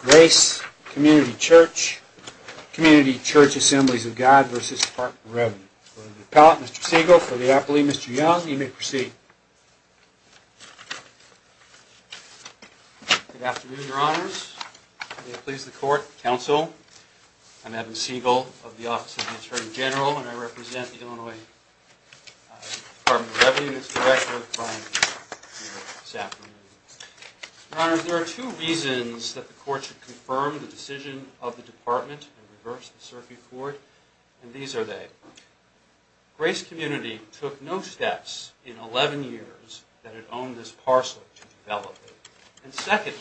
Grace Community Church, Community Church Assemblies of God v. Department of Revenue. For the Appellant, Mr. Siegel. For the Appellee, Mr. Young. You may proceed. Good afternoon, Your Honors. May it please the Court, Counsel. I'm Evan Siegel of the Office of the Attorney General and I represent the Illinois Department of Revenue. I'm presenting this directive of claim here this afternoon. Your Honors, there are two reasons that the Court should confirm the decision of the Department and reverse the circuit court, and these are they. Grace Community took no steps in 11 years that it owned this parcel to develop it, and secondly,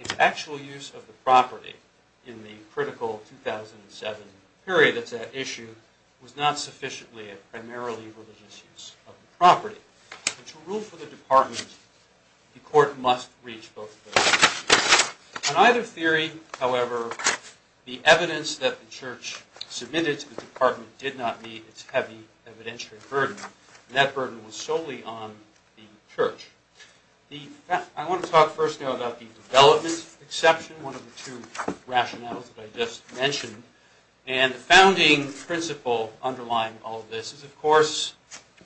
its actual use of the property in the critical 2007 period that's at issue was not sufficiently a primarily religious use of the property. To rule for the Department, the Court must reach both of those. In either theory, however, the evidence that the Church submitted to the Department did not meet its heavy evidentiary burden, and that burden was solely on the Church. I want to talk first now about the development exception, one of the two rationales that I just mentioned. And the founding principle underlying all of this is, of course,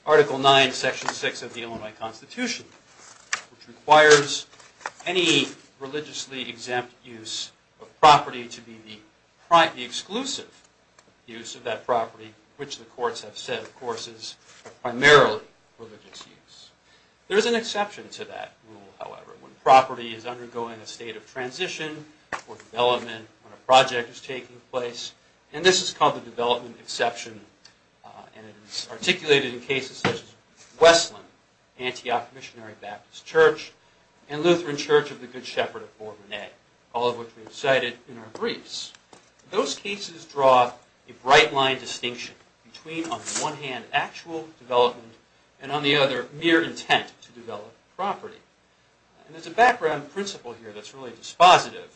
Article 9, Section 6 of the Illinois Constitution, which requires any religiously exempt use of property to be the exclusive use of that property, which the courts have said, of course, is a primarily religious use. There is an exception to that rule, however, when property is undergoing a state of transition or development when a project is taking place, and this is called the development exception, and it is articulated in cases such as Westland, Antioch Missionary Baptist Church, and Lutheran Church of the Good Shepherd of Bourbonnet, all of which we have cited in our briefs. Those cases draw a bright line distinction between, on the one hand, actual development, and on the other, mere intent to develop property. And there's a background principle here that's really dispositive,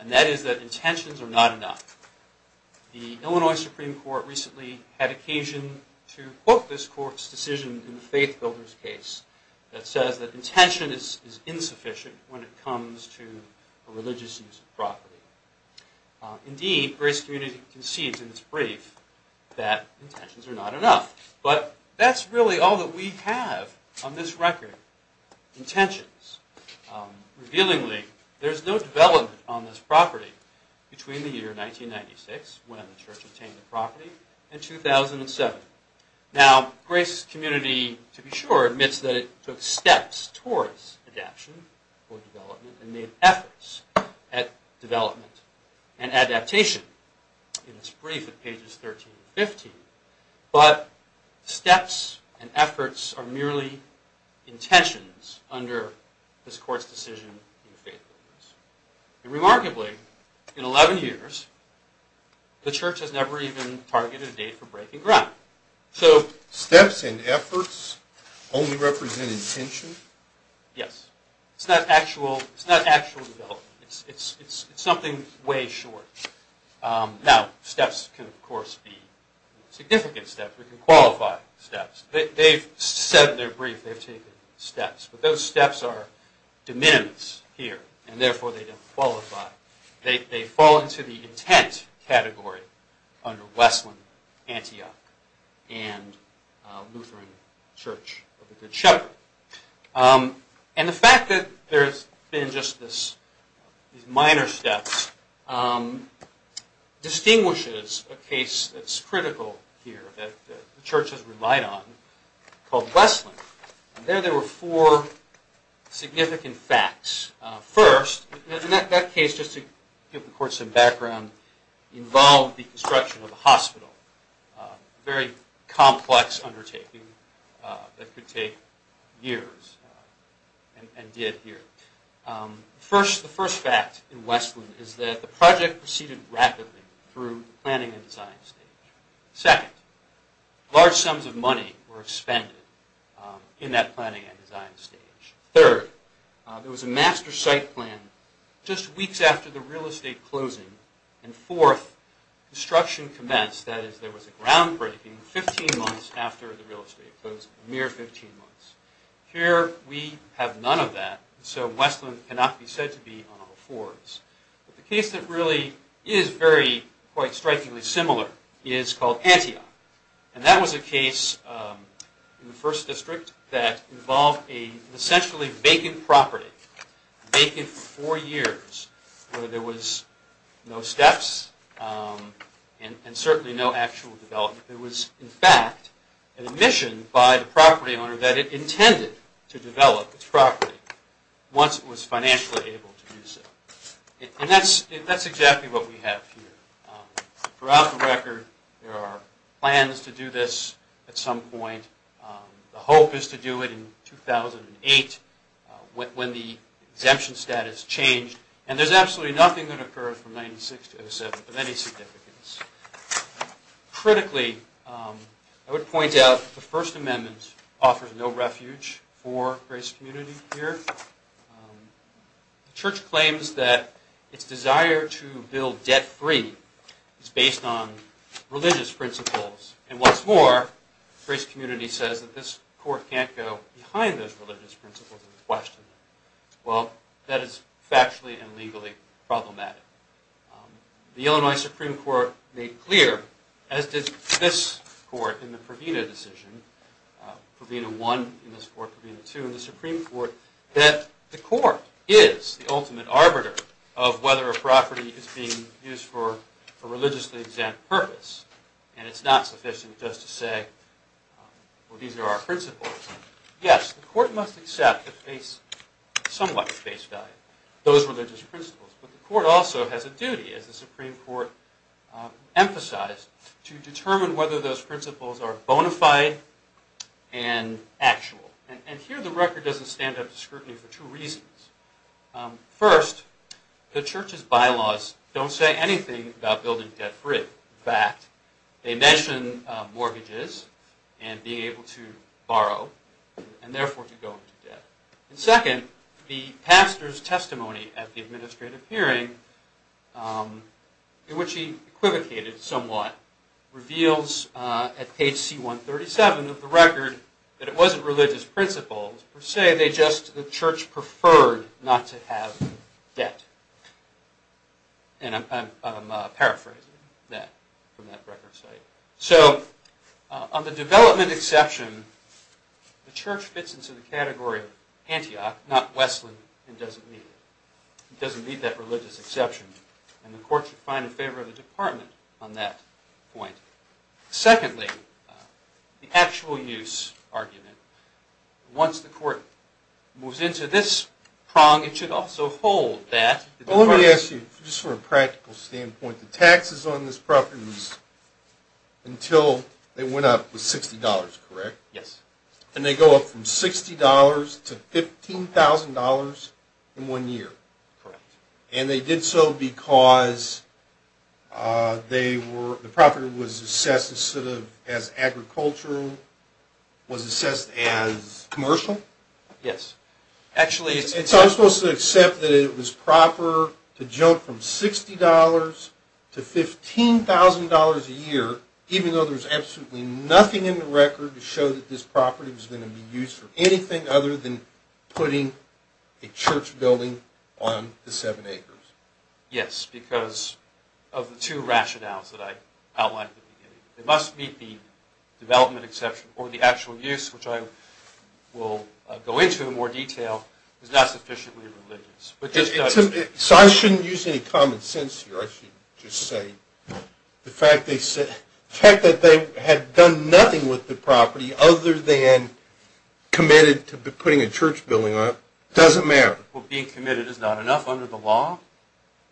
and that is that intentions are not enough. The Illinois Supreme Court recently had occasion to quote this Court's decision in the Faith Builders case that says that intention is insufficient when it comes to a religious use of property. Indeed, Grace Community concedes in its brief that intentions are not enough. But that's really all that we have on this record, intentions. Revealingly, there's no development on this property between the year 1996, when the church obtained the property, and 2007. Now, Grace Community, to be sure, admits that it took steps towards adaption or development, and made efforts at development and adaptation in its brief at pages 13 and 15. But steps and efforts are merely intentions under this Court's decision in the Faith Builders. Remarkably, in 11 years, the church has never even targeted a date for breaking ground. So steps and efforts only represent intention? Yes. It's not actual development. It's something way short. Now, steps can, of course, be significant steps. We can qualify steps. They've said in their brief they've taken steps. But those steps are de minimis here, and therefore they don't qualify. They fall into the intent category under Westland, Antioch, and Lutheran Church of the Good Shepherd. And the fact that there's been just these minor steps distinguishes a case that's critical here, that the church has relied on, called Westland. There, there were four significant facts. First, in that case, just to give the Court some background, involved the construction of a hospital. Very complex undertaking that could take years and did here. First, the first fact in Westland is that the project proceeded rapidly through the planning and design stage. Second, large sums of money were expended in that planning and design stage. Third, there was a master site plan just weeks after the real estate closing. And fourth, construction commenced, that is, there was a groundbreaking, 15 months after the real estate closed, a mere 15 months. Here, we have none of that, so Westland cannot be said to be on all fours. The case that really is very, quite strikingly similar is called Antioch. And that was a case in the first district that involved an essentially vacant property, vacant for four years, where there was no steps and certainly no actual development. There was, in fact, an admission by the property owner that it intended to develop its property once it was financially able to do so. And that's exactly what we have here. Throughout the record, there are plans to do this at some point. The hope is to do it in 2008, when the exemption status changed. And there's absolutely nothing that occurred from 1906 to 1907 of any significance. Critically, I would point out that the First Amendment offers no refuge for the race community here. The church claims that its desire to build debt-free is based on religious principles. And what's more, the race community says that this court can't go behind those religious principles and question them. Well, that is factually and legally problematic. The Illinois Supreme Court made clear, as did this court in the Provena decision, Provena I in this court, Provena II in the Supreme Court, that the court is the ultimate arbiter of whether a property is being used for a religiously exempt purpose. And it's not sufficient just to say, well, these are our principles. Yes, the court must accept a somewhat base value, those religious principles. But the court also has a duty, as the Supreme Court emphasized, to determine whether those principles are bona fide and actual. And here the record doesn't stand up to scrutiny for two reasons. First, the church's bylaws don't say anything about building debt-free. In fact, they mention mortgages and being able to borrow and therefore to go into debt. And second, the pastor's testimony at the administrative hearing, in which he equivocated somewhat, reveals at page C137 of the record that it wasn't religious principles per se, they just, the church preferred not to have debt. And I'm paraphrasing that from that record site. So, on the development exception, the church fits into the category of Antioch, not Westland, and doesn't meet it. And the court should find in favor of the department on that point. Secondly, the actual use argument, once the court moves into this prong, it should also hold that the department... Let me ask you, just from a practical standpoint, the taxes on this property until they went up was $60, correct? Yes. And they go up from $60 to $15,000 in one year. Correct. And they did so because the property was assessed as agricultural, was assessed as... Commercial? Yes. So I'm supposed to accept that it was proper to jump from $60 to $15,000 a year, even though there's absolutely nothing in the record to show that this property was going to be used for anything other than putting a church building on the seven acres. Yes, because of the two rationales that I outlined at the beginning. It must meet the development exception, or the actual use, which I will go into in more detail, is not sufficiently religious. So I shouldn't use any common sense here. I should just say the fact that they had done nothing with the property other than committed to putting a church building on it doesn't matter. Well, being committed is not enough under the law.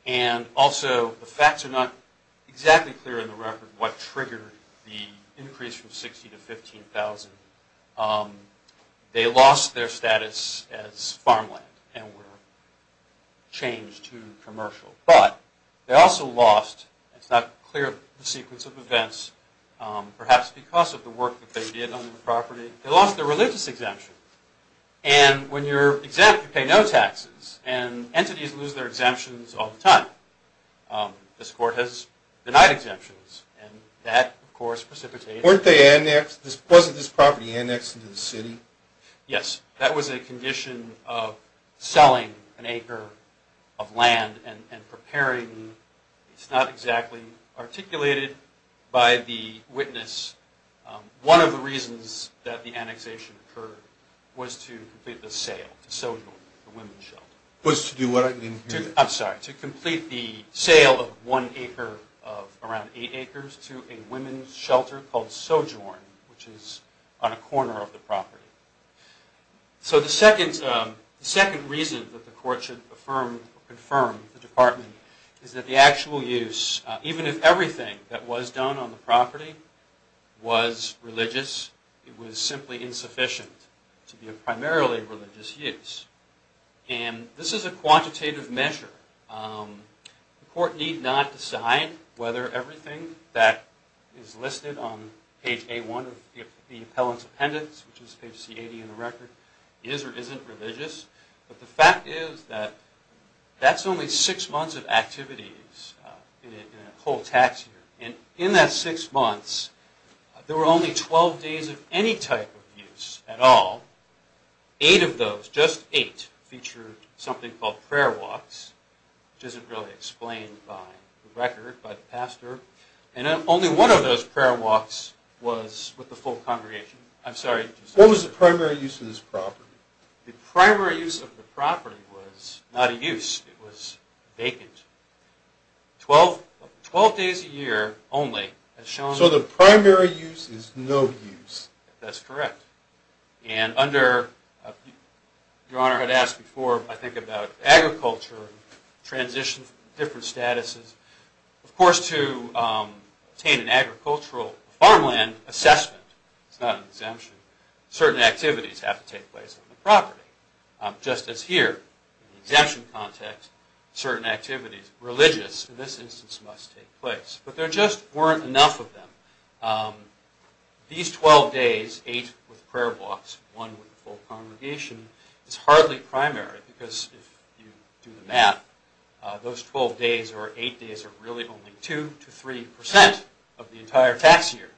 And also the facts are not exactly clear in the record what triggered the increase from $60 to $15,000. They lost their status as farmland and were changed to commercial. But they also lost, it's not clear the sequence of events, perhaps because of the work that they did on the property, they lost their religious exemption. And when you're exempt, you pay no taxes, and entities lose their exemptions all the time. This court has denied exemptions, and that, of course, precipitates... Weren't they annexed? Wasn't this property annexed into the city? Yes, that was a condition of selling an acre of land and preparing. It's not exactly articulated by the witness. One of the reasons that the annexation occurred was to complete the sale to Sojourn, the women's shelter. Was to do what? I'm sorry, to complete the sale of one acre of around eight acres to a women's shelter called Sojourn, which is on a corner of the property. So the second reason that the court should affirm or confirm the Department is that the actual use, even if everything that was done on the property was religious, it was simply insufficient to be a primarily religious use. And this is a quantitative measure. The court need not decide whether everything that is listed on page A1 of the appellant's appendix, which is page C80 in the record, is or isn't religious. But the fact is that that's only six months of activities in a whole tax year. And in that six months, there were only 12 days of any type of use at all. Eight of those, just eight, featured something called prayer walks, which isn't really explained by the record, by the pastor. And only one of those prayer walks was with the full congregation. I'm sorry. What was the primary use of this property? The primary use of the property was not a use. It was vacant. Twelve days a year only. So the primary use is no use. That's correct. And under, Your Honor had asked before, I think, about agriculture, transitions, different statuses. Of course, to obtain an agricultural farmland assessment, it's not an exemption, certain activities have to take place on the property. Just as here, in the exemption context, certain activities, religious in this instance, must take place. But there just weren't enough of them. These 12 days, eight with prayer walks, one with the full congregation, is hardly primary because if you do the math, those 12 days or eight days are really only two to three percent of the entire tax year.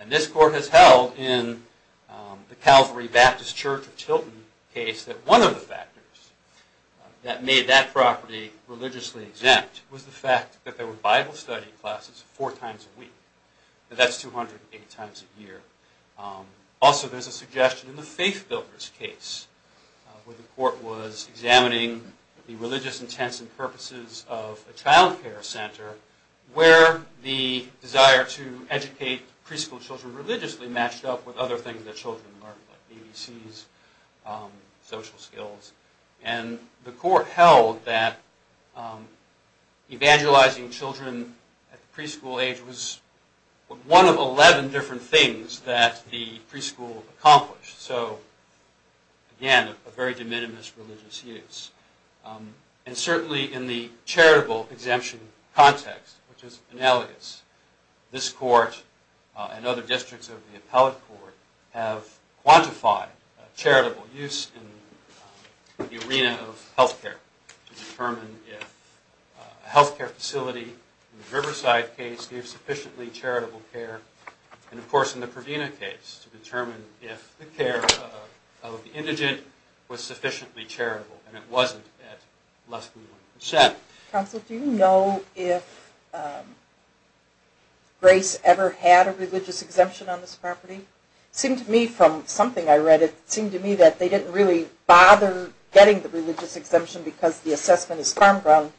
And this Court has held in the Calvary Baptist Church of Tilton case that one of the factors that made that property religiously exempt was the fact that there were Bible study classes four times a week. That's 208 times a year. Also, there's a suggestion in the Faith Builders case where the Court was examining the religious intents and purposes of a child care center where the desire to educate preschool children religiously matched up with other things that children learned, like ABCs, social skills. And the Court held that evangelizing children at the preschool age was one of 11 different things that the preschool accomplished. So, again, a very de minimis religious use. And certainly in the charitable exemption context, which is in elegance, this Court and other districts of the appellate court have quantified charitable use in the arena of health care to determine if a health care facility in the Riverside case gave sufficiently charitable care. And, of course, in the Provina case to determine if the care of the indigent was sufficiently charitable. And it wasn't at less than one percent. Counsel, do you know if Grace ever had a religious exemption on this property? It seemed to me from something I read, it seemed to me that they didn't really bother getting the religious exemption because the assessment is farm ground,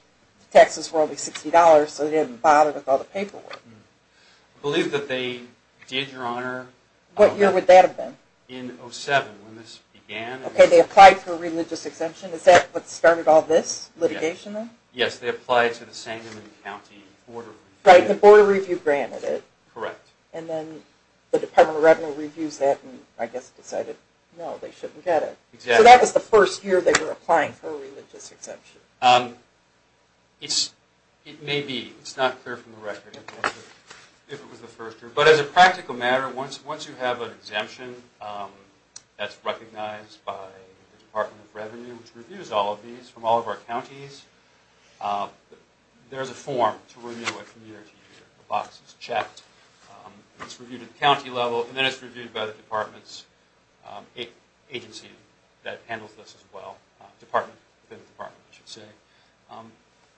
taxes were only $60, so they didn't bother with all the paperwork. I believe that they did, Your Honor. What year would that have been? In 07, when this began. Okay, they applied for a religious exemption. Is that what started all this litigation then? Yes, they applied to the Sangamon County Board of Review. Right, and the Board of Review granted it. Correct. And then the Department of Revenue reviews that and I guess decided, no, they shouldn't get it. Exactly. So that was the first year they were applying for a religious exemption. It may be. It's not clear from the record if it was the first year. But as a practical matter, once you have an exemption that's recognized by the Department of Revenue, which reviews all of these from all of our counties, there's a form to review a community year. The box is checked. It's reviewed at the county level and then it's reviewed by the department's agency that handles this as well. Department within the department, I should say.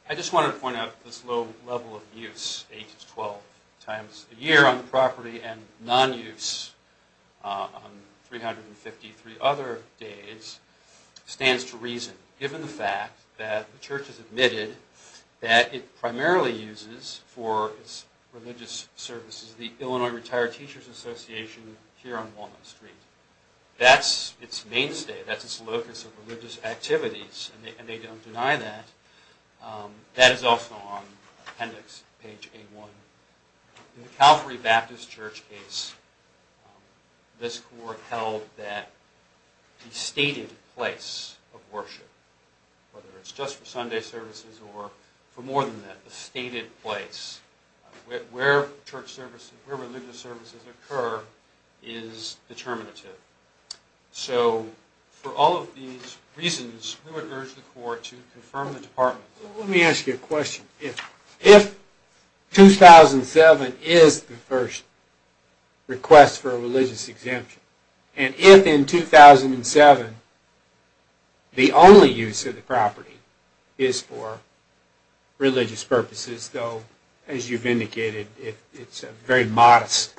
I just wanted to point out this low level of use, 8 to 12 times a year on the property and non-use on 353 other days stands to reason, given the fact that the church has admitted that it primarily uses for its religious services the Illinois Retired Teachers Association here on Walnut Street. That's its mainstay. That's its locus of religious activities and they don't deny that. That is also on appendix page 8-1. In the Calvary Baptist Church case, this court held that the stated place of worship, whether it's just for Sunday services or for more than that, the stated place where church services, where religious services occur is determinative. So for all of these reasons, we would urge the court to confirm the department. Let me ask you a question. If 2007 is the first request for a religious exemption and if in 2007 the only use of the property is for religious purposes, though as you've indicated it's a very modest,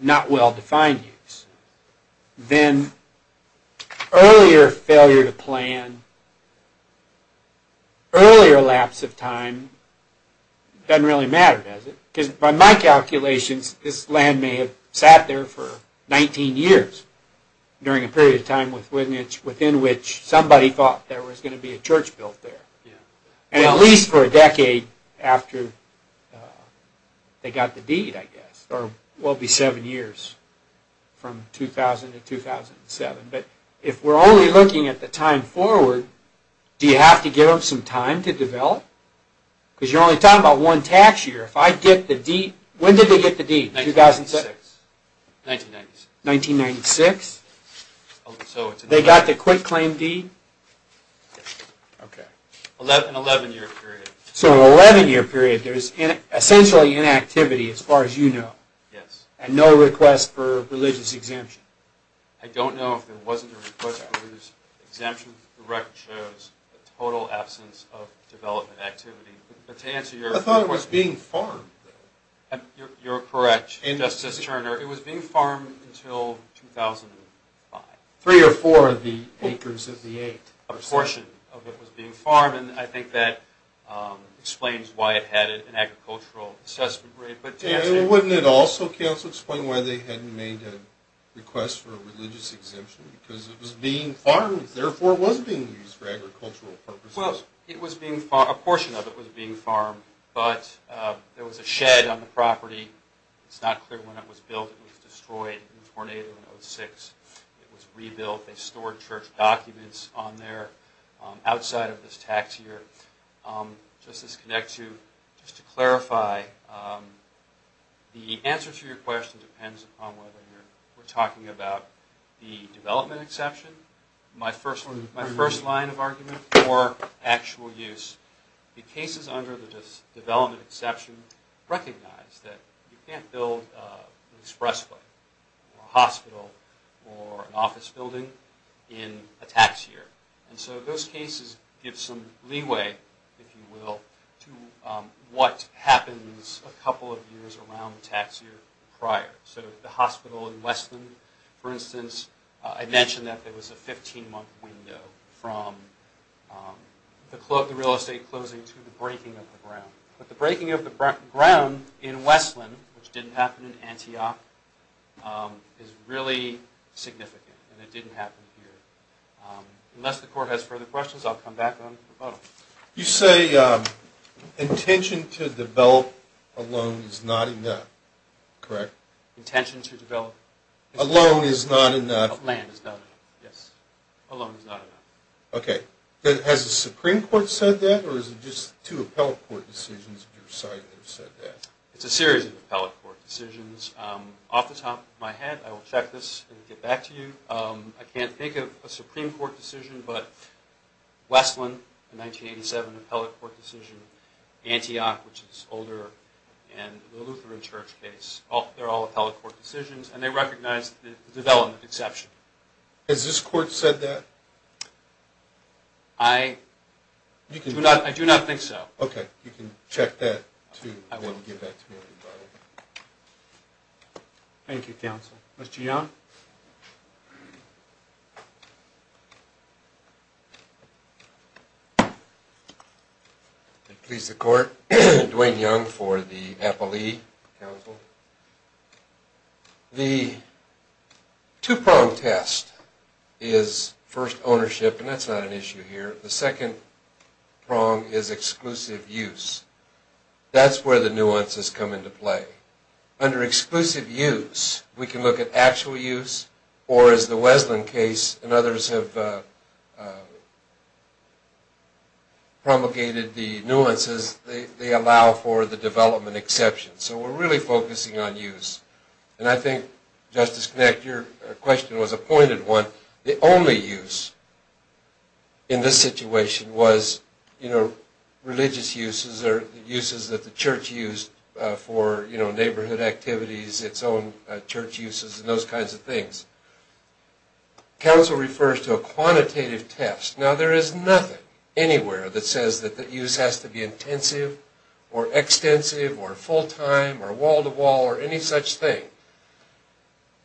not doesn't really matter, does it? Because by my calculations, this land may have sat there for 19 years during a period of time within which somebody thought there was going to be a church built there. At least for a decade after they got the deed, I guess. Or it will be seven years from 2000 to 2007. But if we're only looking at the time forward, do you have to give them some time to develop? Because you're only talking about one tax year. If I get the deed, when did they get the deed? 1996. 1996? They got the quick claim deed? Yes. Okay. An 11 year period. So an 11 year period, there's essentially inactivity as far as you know? Yes. And no request for religious exemption? I don't know if there wasn't a request for religious exemption. The record shows a total absence of development activity. I thought it was being farmed, though. You're correct, Justice Turner. It was being farmed until 2005. Three or four of the acres of the eight. A portion of it was being farmed and I think that explains why it had an agricultural assessment rate. And wouldn't it also, counsel, explain why they hadn't made a request for a religious exemption? Because it was being farmed, therefore it was being used for agricultural purposes. Well, a portion of it was being farmed, but there was a shed on the property. It's not clear when it was built. It was destroyed in a tornado in 2006. It was rebuilt. They stored church documents on there outside of this tax year. Just to connect you, just to clarify, the answer to your question depends upon whether we're talking about the development exception, my first line of argument, or actual use. The cases under the development exception recognize that you can't build an expressway, or a hospital, or an office building in a tax year. And so those cases give some leeway, if you will, to what happens a couple of years around the tax year prior. So the hospital in Westland, for instance, I mentioned that there was a 15-month window from the real estate closing to the breaking of the ground. But the breaking of the ground in Westland, which didn't happen in Antioch, is really significant and it didn't happen here. Unless the Court has further questions, I'll come back on the proposal. You say intention to develop alone is not enough, correct? Intention to develop? Alone is not enough. Land is not enough, yes. Alone is not enough. Okay. Has the Supreme Court said that, or is it just two appellate court decisions of your side that have said that? It's a series of appellate court decisions. Off the top of my head, I will check this and get back to you, I can't think of a Supreme Court decision, but Westland, a 1987 appellate court decision, Antioch, which is older, and the Lutheran Church case, they're all appellate court decisions, and they recognize the development exception. Has this Court said that? I do not think so. Okay. You can check that, too, and we'll get back to you. Thank you, counsel. Mr. Young? Please the Court. Dwayne Young for the Appellee Council. The two-prong test is first, ownership, and that's not an issue here. The second prong is exclusive use. That's where the nuances come into play. Under exclusive use, we can look at actual use, or as the Westland case and others have promulgated the nuances, they allow for the development exception. So we're really focusing on use. And I think, Justice Knecht, your question was a pointed one. The only use in this situation was religious uses or uses that the church used for neighborhood activities, its own church uses and those kinds of things. Counsel refers to a quantitative test. Now, there is nothing anywhere that says that the use has to be intensive or extensive or full-time or wall-to-wall or any such thing.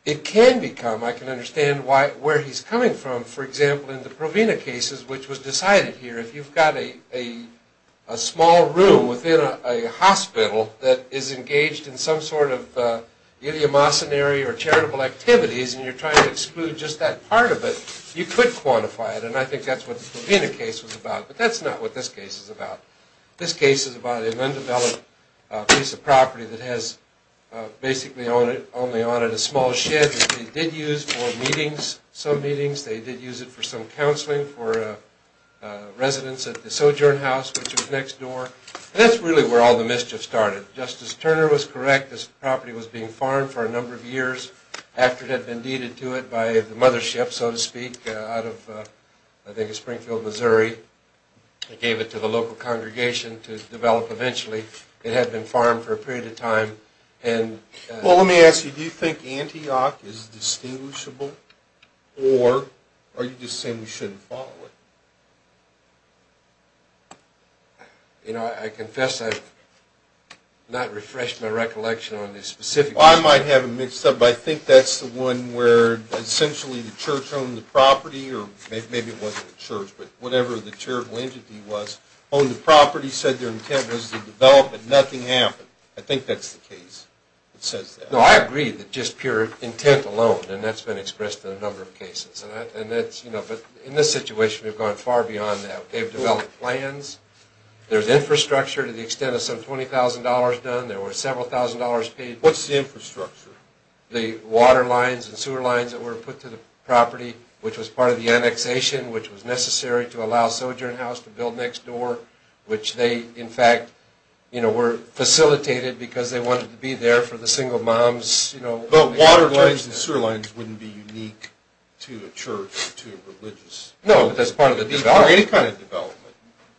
It can become, I can understand where he's coming from. For example, in the Provena cases, which was decided here, if you've got a small room within a hospital that is engaged in some sort of idiomocenary or charitable activities and you're trying to exclude just that part of it, you could quantify it, and I think that's what the Provena case was about. But that's not what this case is about. This case is about an undeveloped piece of property that has basically only on it a small shed that they did use for meetings, some meetings. They did use it for some counseling for residents at the Sojourn House, which was next door. And that's really where all the mischief started. Justice Turner was correct. This property was being farmed for a number of years after it had been deeded to it by the mothership, so to speak, out of, I think, Springfield, Missouri. They gave it to the local congregation to develop eventually. It had been farmed for a period of time. Well, let me ask you, do you think Antioch is distinguishable, or are you just saying we shouldn't follow it? You know, I confess I've not refreshed my recollection on this specific case. Well, I might have it mixed up, but I think that's the one where essentially the church owned the property, or maybe it wasn't the church, but whatever the charitable entity was, owned the property, said their intent was to develop it, nothing happened. I think that's the case that says that. No, I agree that just pure intent alone, and that's been expressed in a number of cases. But in this situation, we've gone far beyond that. They've developed plans. There's infrastructure to the extent of some $20,000 done. There were several thousand dollars paid. What's the infrastructure? The water lines and sewer lines that were put to the property, which was part of the annexation, which was necessary to allow Sojourn House to build next door, which they, in fact, were facilitated because they wanted to be there for the single moms. But water lines and sewer lines wouldn't be unique to a church, to a religious... No, but that's part of the development. ...or any kind of development.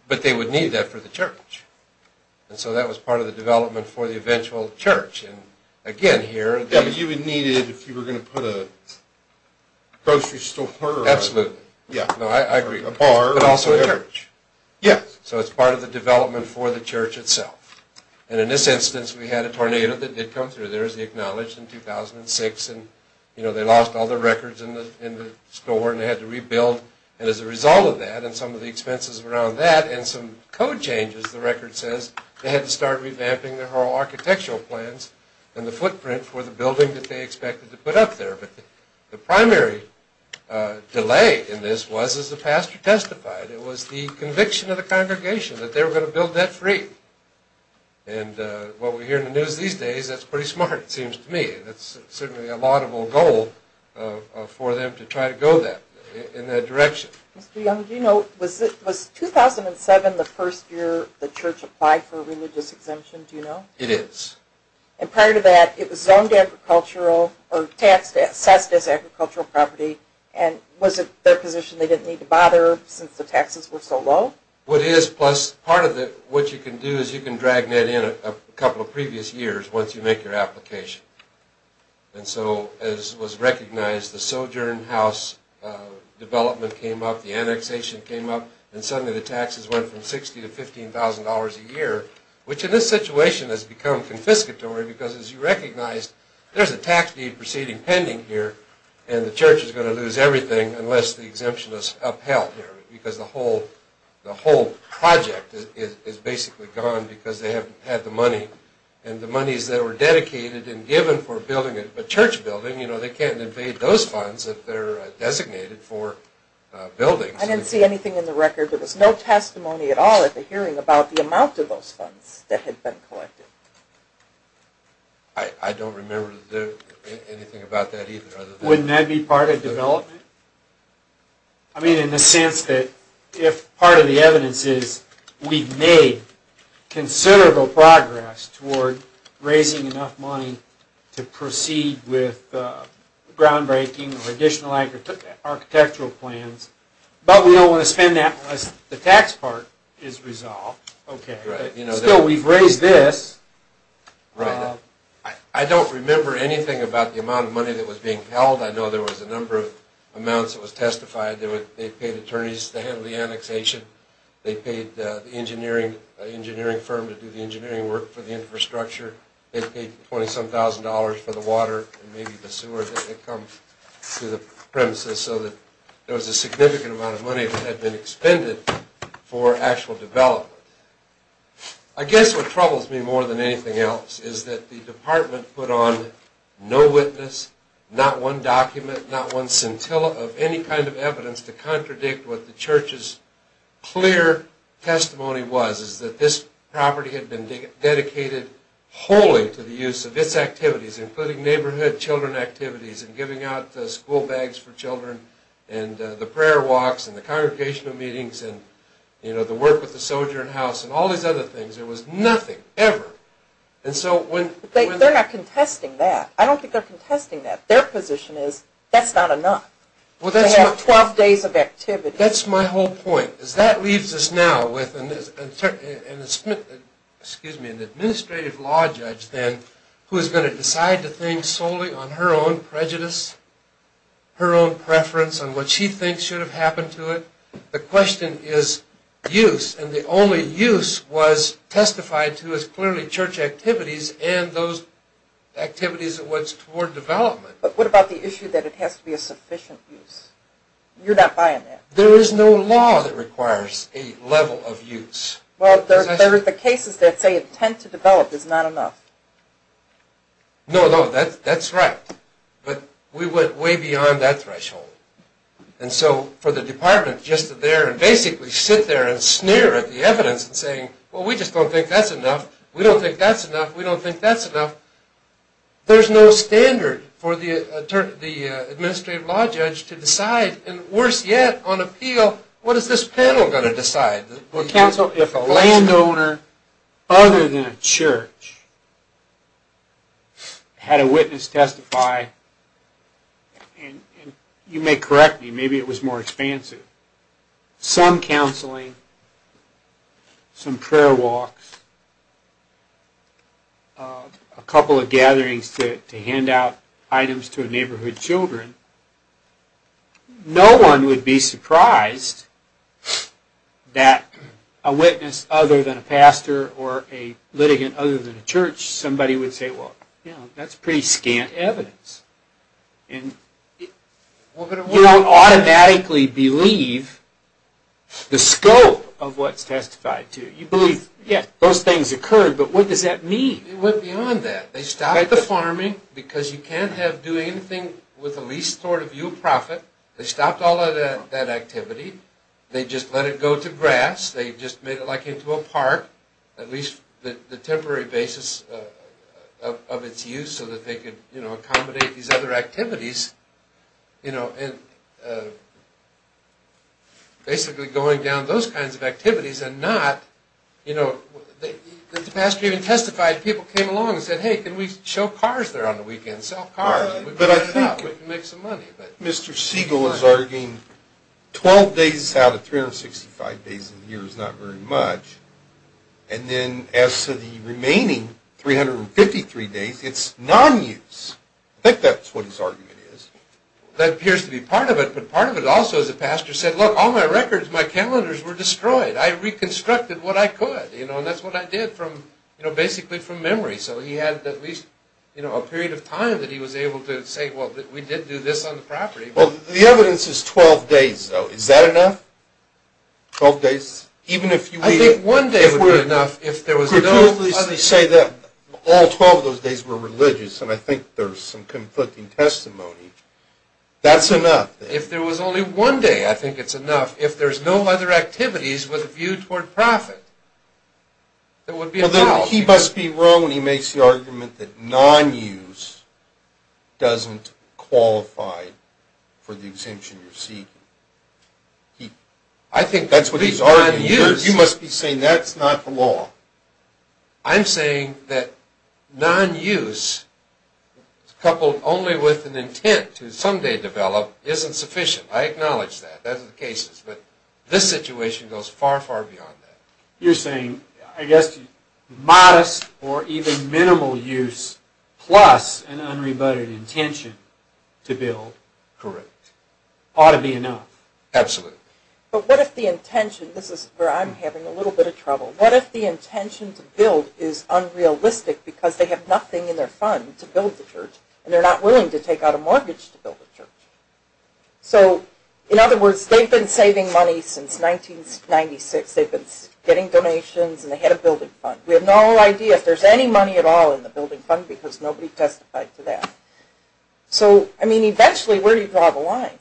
But they would need that for the church. And so that was part of the development for the eventual church. And again, here... Yeah, but you would need it if you were going to put a grocery store... Absolutely. Yeah. No, I agree. A bar... It's also a church. Yes. So it's part of the development for the church itself. And in this instance, we had a tornado that did come through. There's the Acknowledged in 2006, and they lost all their records in the store, and they had to rebuild. And as a result of that and some of the expenses around that and some code changes, the record says they had to start revamping their whole architectural plans and the footprint for the building that they expected to put up there. But the primary delay in this was, as the pastor testified, it was the conviction of the congregation that they were going to build that free. And what we hear in the news these days, that's pretty smart, it seems to me. That's certainly a laudable goal for them to try to go in that direction. Mr. Young, do you know, was 2007 the first year the church applied for a religious exemption? Do you know? It is. And prior to that, it was zoned agricultural or assessed as agricultural property. And was it their position they didn't need to bother since the taxes were so low? What is, plus part of what you can do is you can drag Ned in a couple of previous years once you make your application. And so as was recognized, the Sojourn House development came up, the annexation came up, and suddenly the taxes went from $60,000 to $15,000 a year, which in this situation has become confiscatory because, as you recognize, there's a tax deed proceeding pending here, and the church is going to lose everything unless the exemption is upheld here because the whole project is basically gone because they haven't had the money. And the monies that were dedicated and given for building a church building, they can't evade those funds if they're designated for buildings. I didn't see anything in the record. There was no testimony at all at the hearing about the amount of those funds that had been collected. I don't remember anything about that either. Wouldn't that be part of development? I mean in the sense that if part of the evidence is we've made considerable progress toward raising enough money to proceed with groundbreaking or additional architectural plans, but we don't want to spend that unless the tax part is resolved. Still, we've raised this. Right. I don't remember anything about the amount of money that was being held. I know there was a number of amounts that was testified. They paid attorneys to handle the annexation. They paid the engineering firm to do the engineering work for the infrastructure. They paid $27,000 for the water and maybe the sewer that comes to the premises so that there was a significant amount of money that had been expended for actual development. I guess what troubles me more than anything else is that the department put on no witness, not one document, not one scintilla of any kind of evidence to contradict what the church's clear testimony was, is that this property had been dedicated wholly to the use of its activities, including neighborhood children activities and giving out school bags for children and the prayer walks and the congregational meetings and the work with the soldier and house and all these other things. There was nothing, ever. They're not contesting that. I don't think they're contesting that. Their position is that's not enough to have 12 days of activity. That's my whole point. That leaves us now with an administrative law judge then who is going to decide to think solely on her own prejudice, her own preference on what she thinks should have happened to it. The question is use, and the only use was testified to as clearly church activities and those activities towards development. But what about the issue that it has to be a sufficient use? You're not buying that. There is no law that requires a level of use. Well, there are the cases that say intent to develop is not enough. No, no, that's right. But we went way beyond that threshold. And so for the department just to basically sit there and sneer at the evidence and saying, well, we just don't think that's enough, we don't think that's enough, we don't think that's enough, there's no standard for the administrative law judge to decide, and worse yet, on appeal, what is this panel going to decide? Counsel, if a landowner other than a church had a witness testify, and you may correct me, maybe it was more expansive, some counseling, some prayer walks, a couple of gatherings to hand out items to neighborhood children, no one would be surprised that a witness other than a pastor or a litigant other than a church, somebody would say, well, that's pretty scant evidence. You don't automatically believe the scope of what's testified to. You believe, yeah, those things occurred, but what does that mean? It went beyond that. They stopped the farming because you can't do anything with the least sort of yield profit. They stopped all of that activity. They just let it go to grass. They just made it like into a park, at least the temporary basis of its use so that they could accommodate these other activities. Basically going down those kinds of activities and not, you know, the pastor even testified, people came along and said, hey, can we show cars there on the weekend, sell cars? We can make some money. Mr. Siegel is arguing 12 days out of 365 days a year is not very much, and then as to the remaining 353 days, it's non-use. I think that's what his argument is. That appears to be part of it, but part of it also is the pastor said, look, all my records, my calendars were destroyed. I reconstructed what I could, you know, and that's what I did from, you know, basically from memory, so he had at least, you know, a period of time that he was able to say, well, we did do this on the property. Well, the evidence is 12 days, though. Is that enough, 12 days? Yes. I think one day would be enough if there was no other. Could you at least say that all 12 of those days were religious, and I think there's some conflicting testimony. That's enough. If there was only one day, I think it's enough. If there's no other activities with a view toward profit, that would be a foul. Well, then he must be wrong when he makes the argument that non-use doesn't qualify for the exemption you're seeking. I think that's what he's arguing. Non-use. You must be saying that's not the law. I'm saying that non-use, coupled only with an intent to someday develop, isn't sufficient. I acknowledge that. That's the case. But this situation goes far, far beyond that. You're saying, I guess, modest or even minimal use plus an unrebutted intention to build. Correct. Ought to be enough. Absolutely. But what if the intention, this is where I'm having a little bit of trouble, what if the intention to build is unrealistic because they have nothing in their fund to build the church, and they're not willing to take out a mortgage to build the church? So, in other words, they've been saving money since 1996. They've been getting donations, and they had a building fund. We have no idea if there's any money at all in the building fund because nobody testified to that. So, I mean, eventually where do you draw the line?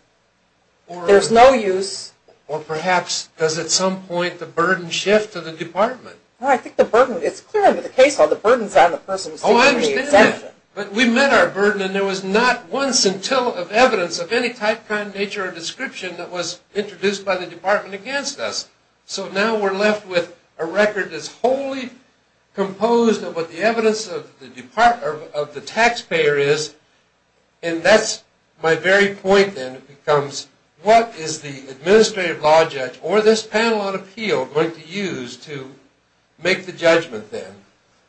There's no use. Or perhaps does at some point the burden shift to the department? I think the burden, it's clear under the case law, the burden's on the person who's seeking the exemption. Oh, I understand that. But we met our burden, and there was not once until of evidence of any type, kind, nature, or description that was introduced by the department against us. So now we're left with a record that's wholly composed of what the evidence of the taxpayer is. And that's my very point then becomes what is the administrative law judge or this panel on appeal going to use to make the judgment then?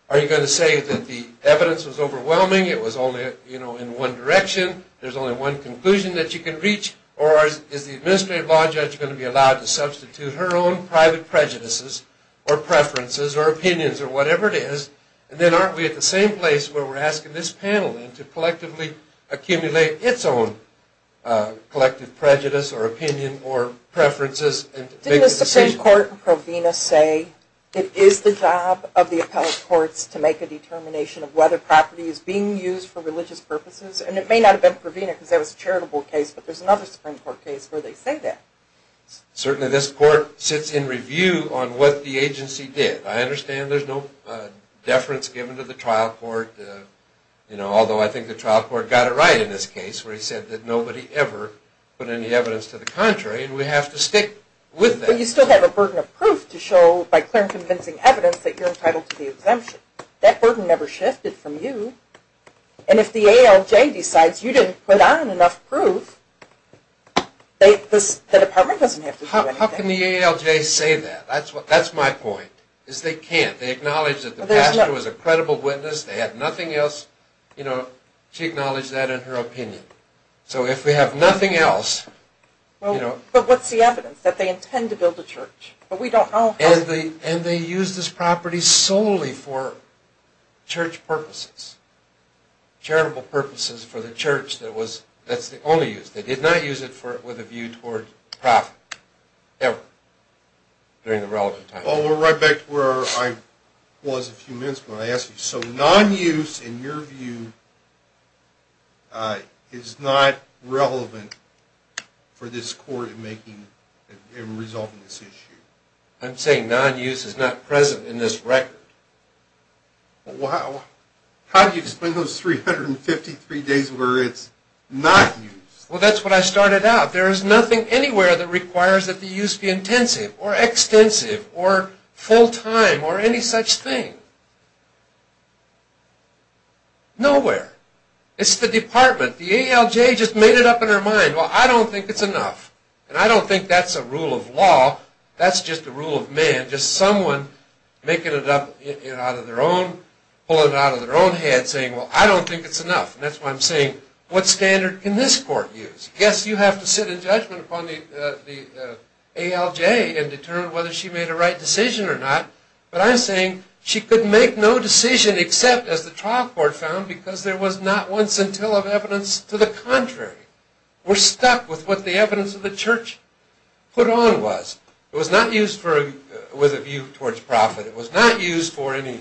Are you going to say that the evidence was overwhelming, it was only, you know, in one direction, there's only one conclusion that you can reach, or is the administrative law judge going to be allowed to substitute her own private prejudices or preferences or opinions or whatever it is, and then aren't we at the same place where we're asking this panel to collectively accumulate its own collective prejudice or opinion or preferences and make a decision? Didn't the Supreme Court and Provena say it is the job of the appellate courts to make a determination of whether property is being used for religious purposes? And it may not have been Provena because that was a charitable case, but there's another Supreme Court case where they say that. Certainly this court sits in review on what the agency did. I understand there's no deference given to the trial court, you know, although I think the trial court got it right in this case where he said that nobody ever put any evidence to the contrary and we have to stick with that. But you still have a burden of proof to show by clear and convincing evidence that you're entitled to the exemption. That burden never shifted from you. And if the ALJ decides you didn't put on enough proof, the department doesn't have to do anything. How can the ALJ say that? That's my point, is they can't. They acknowledge that the pastor was a credible witness, they had nothing else. You know, she acknowledged that in her opinion. So if we have nothing else, you know... But what's the evidence, that they intend to build a church? And they used this property solely for church purposes, charitable purposes for the church. That's the only use. They did not use it with a view toward profit, ever, during the relevant time. Well, we're right back to where I was a few minutes ago when I asked you. So non-use, in your view, is not relevant for this court in resolving this issue? I'm saying non-use is not present in this record. Well, how do you explain those 353 days where it's not used? Well, that's what I started out. There is nothing anywhere that requires that the use be intensive, or extensive, or full-time, or any such thing. Nowhere. It's the department. The ALJ just made it up in her mind. Well, I don't think it's enough. And I don't think that's a rule of law. That's just the rule of man. Just someone making it up out of their own, pulling it out of their own head, saying, well, I don't think it's enough. And that's why I'm saying, what standard can this court use? Yes, you have to sit in judgment upon the ALJ and determine whether she made a right decision or not. But I'm saying she could make no decision except, as the trial court found, because there was not once until of evidence to the contrary. We're stuck with what the evidence of the church put on was. It was not used with a view towards profit. It was not used for any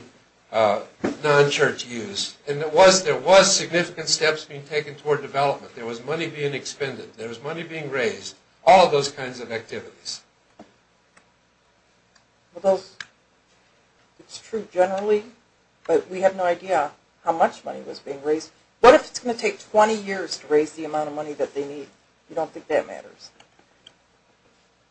non-church use. And there was significant steps being taken toward development. There was money being expended. There was money being raised. All of those kinds of activities. Well, it's true generally, but we have no idea how much money was being raised. What if it's going to take 20 years to raise the amount of money that they need? You don't think that matters?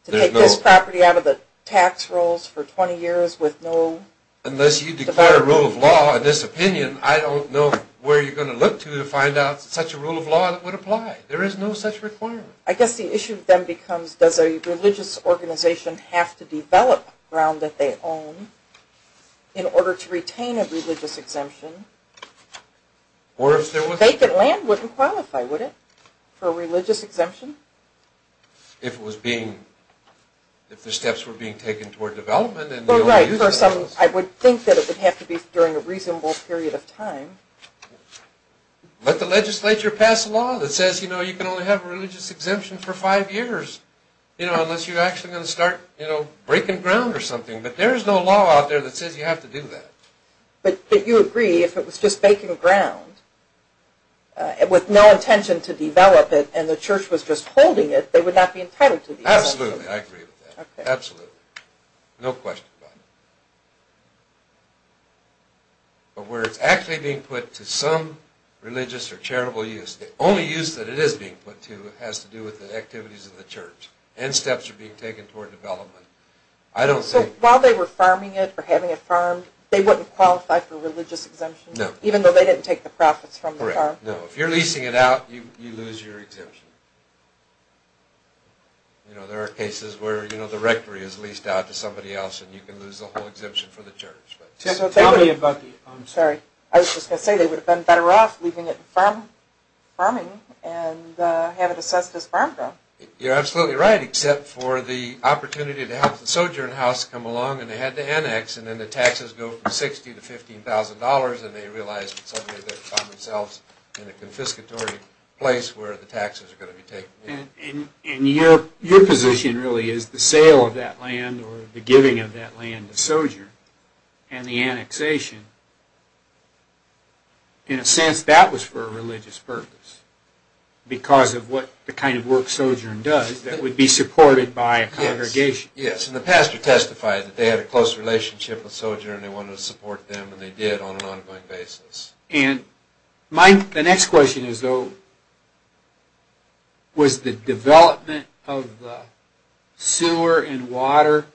To take this property out of the tax rolls for 20 years with no? Unless you declare a rule of law in this opinion, I don't know where you're going to look to to find out such a rule of law that would apply. There is no such requirement. I guess the issue then becomes, does a religious organization have to develop ground that they own in order to retain a religious exemption? Or if there was? Vacant land wouldn't qualify, would it, for a religious exemption? If it was being, if the steps were being taken toward development. Well, right. I would think that it would have to be during a reasonable period of time. Let the legislature pass a law that says, you know, you can only have a religious exemption for five years, you know, unless you're actually going to start, you know, breaking ground or something. But there is no law out there that says you have to do that. But you agree if it was just vacant ground, with no intention to develop it and the church was just holding it, they would not be entitled to the exemption? Absolutely. I agree with that. Okay. Absolutely. No question about it. But where it's actually being put to some religious or charitable use, the only use that it is being put to has to do with the activities of the church and steps are being taken toward development. So while they were farming it or having it farmed, they wouldn't qualify for a religious exemption? No. Even though they didn't take the profits from the farm? Correct. No. If you're leasing it out, you lose your exemption. You know, there are cases where, you know, the rectory is leased out to somebody else and you can lose the whole exemption for the church. Tell me about the, I'm sorry, I was just going to say they would have been better off leaving it in farming and have it assessed as farm ground. You're absolutely right, except for the opportunity to have the sojourn house come along and they had to annex and then the taxes go from $60,000 to $15,000 and they realized suddenly they found themselves in a confiscatory place where the taxes are going to be taken. And your position really is the sale of that land or the giving of that land to sojourn and the annexation, in a sense that was for a religious purpose because of what the kind of work sojourn does that would be supported by a congregation. Yes. And the pastor testified that they had a close relationship with sojourn and they wanted to support them and they did on an ongoing basis. The next question is though, was the development of the sewer and water,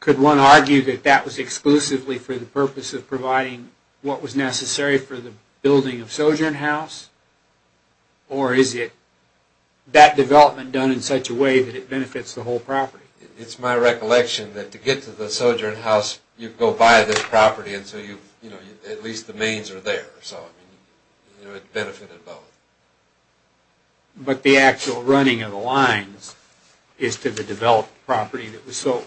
could one argue that that was exclusively for the purpose of providing what was necessary for the building of sojourn house? Or is it that development done in such a way that it benefits the whole property? It's my recollection that to get to the sojourn house, you go by this property and at least the mains are there, so it benefited both. But the actual running of the lines is to the developed property that was sold?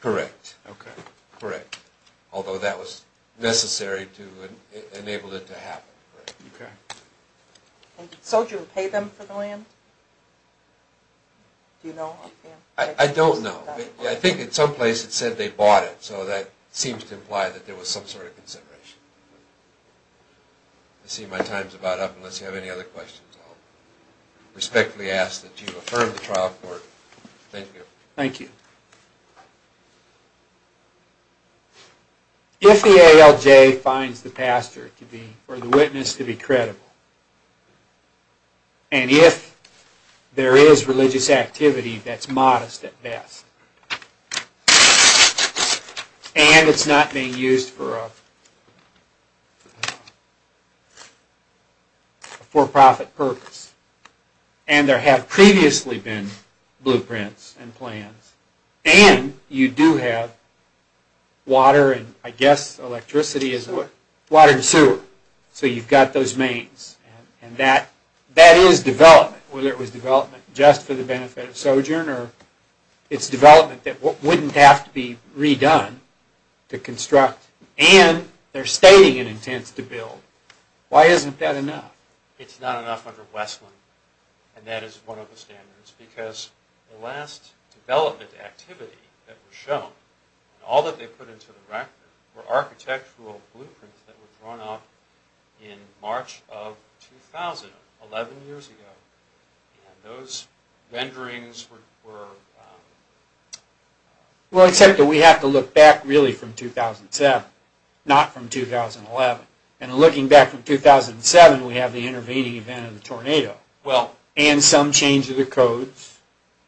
Correct. Okay. Correct. Although that was necessary to enable it to happen. Okay. And did sojourn pay them for the land? Do you know? I don't know. I think in some place it said they bought it, so that seems to imply that there was some sort of consideration. I see my time's about up unless you have any other questions. I'll respectfully ask that you affirm the trial court. Thank you. Thank you. If the ALJ finds the pastor to be, or the witness to be credible, and if there is religious activity that's modest at best, and it's not being used for a for-profit purpose, and there have previously been blueprints and plans, and you do have water, and I guess electricity is what? Water and sewer. So you've got those mains, and that is development. Whether it was development just for the benefit of sojourn, or it's development that wouldn't have to be redone to construct, and they're stating an intent to build. Why isn't that enough? It's not enough under Westland, and that is one of the standards, because the last development activity that was shown, all that they put into the record were architectural blueprints that were drawn up in March of 2011, 11 years ago. And those renderings were... Well, except that we have to look back really from 2007, not from 2011. And looking back from 2007, we have the intervening event of the tornado, and some change of the codes.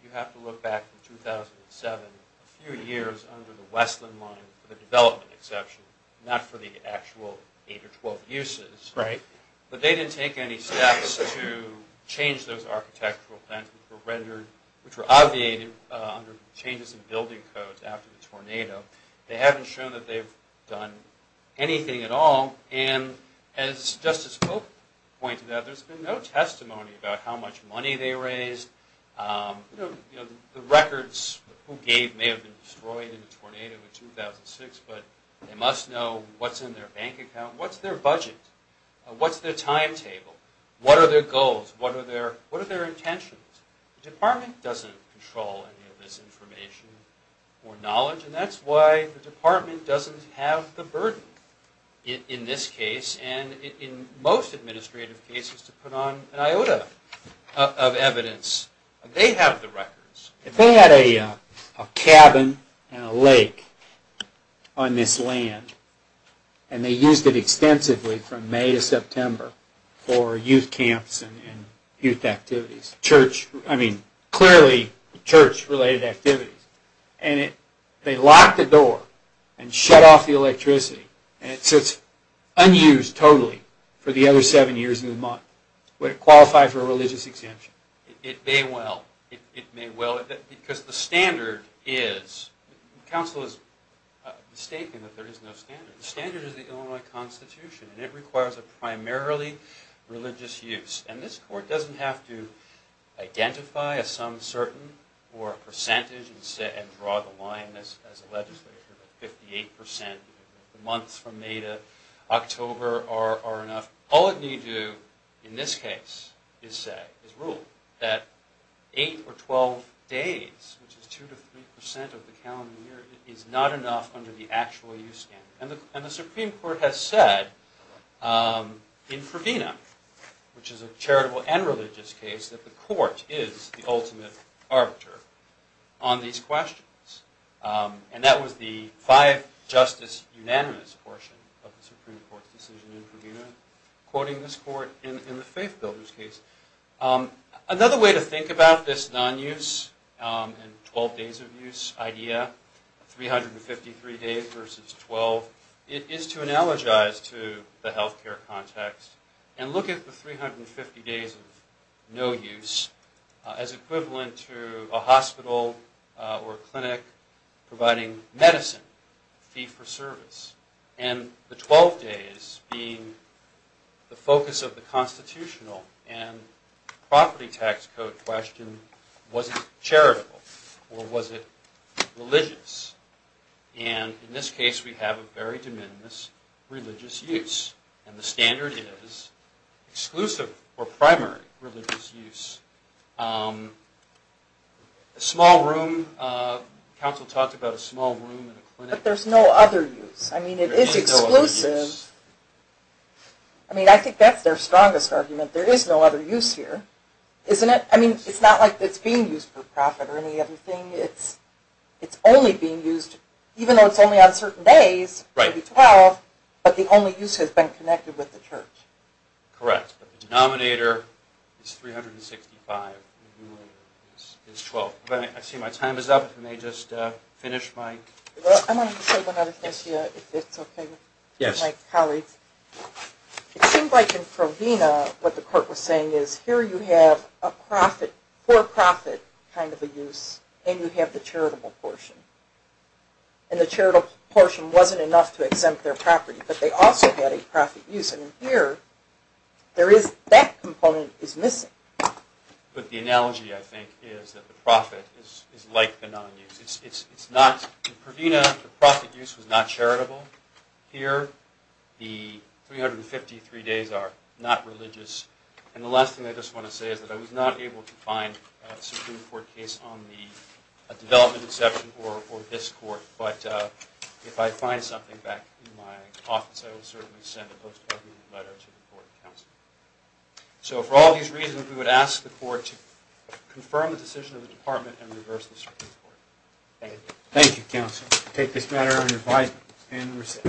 You have to look back to 2007, a few years under the Westland line, for the development exception, not for the actual 8 or 12 uses. But they didn't take any steps to change those architectural plans that were rendered, which were obviated under changes in building codes after the tornado. They haven't shown that they've done anything at all, and as Justice Pope pointed out, there's been no testimony about how much money they raised. The records who gave may have been destroyed in the tornado in 2006, but they must know what's in their bank account, what's their budget, what's their timetable, what are their goals, what are their intentions. The department doesn't control any of this information or knowledge, and that's why the department doesn't have the burden in this case, and in most administrative cases, to put on an iota of evidence. They have the records. If they had a cabin and a lake on this land, and they used it extensively from May to September for youth camps and youth activities, church, I mean, clearly church-related activities, and they locked the door and shut off the electricity, and it sits unused totally for the other seven years of the month. Would it qualify for a religious exemption? It may well. Because the standard is, counsel is mistaken that there is no standard. The standard is the Illinois Constitution, and it requires a primarily religious use, and this court doesn't have to identify a some certain or a percentage and draw the line as a legislature, but 58% of the months from May to October are enough. All it needs to do in this case is say, is rule, that eight or 12 days, which is 2% to 3% of the calendar year, is not enough under the actual use standard. And the Supreme Court has said in Provena, which is a charitable and religious case, that the court is the ultimate arbiter on these questions. And that was the five-justice-unanimous portion of the Supreme Court's decision in Provena, quoting this court in the faith-builder's case. Another way to think about this non-use and 12 days of use idea, 353 days versus 12, is to analogize to the health care context and look at the 350 days of no use as equivalent to a hospital or a clinic providing medicine, fee for service, and the 12 days being the focus of the constitutional and property tax code question, was it charitable or was it religious? And in this case we have a very de minimis religious use, and the standard is exclusive or primary religious use. A small room, counsel talked about a small room in a clinic. But there's no other use, I mean it is exclusive. There is no other use. I mean I think that's their strongest argument, there is no other use here, isn't it? I mean it's not like it's being used for profit or any other thing, it's only being used, even though it's only on certain days, but the only use has been connected with the church. Correct. The denominator is 365, is 12. I see my time is up, if I may just finish my... I wanted to say one other thing, if it's okay with my colleagues. It seems like in Provina, what the court was saying is, here you have a profit, for profit kind of a use, and you have the charitable portion. And the charitable portion wasn't enough to exempt their property, but they also had a profit use. And here, there is, that component is missing. But the analogy I think is that the profit is like the non-use. It's not, in Provina, the profit use was not charitable. Here, the 353 days are not religious. And the last thing I just want to say is that I was not able to find a Supreme Court case on the development exception, or this court. But if I find something back in my office, I will certainly send a post-covenant letter to the court of counsel. So for all these reasons, we would ask the court to confirm the decision of the department, and reverse the Supreme Court. Thank you. Thank you, counsel. We'll take this matter under advisement.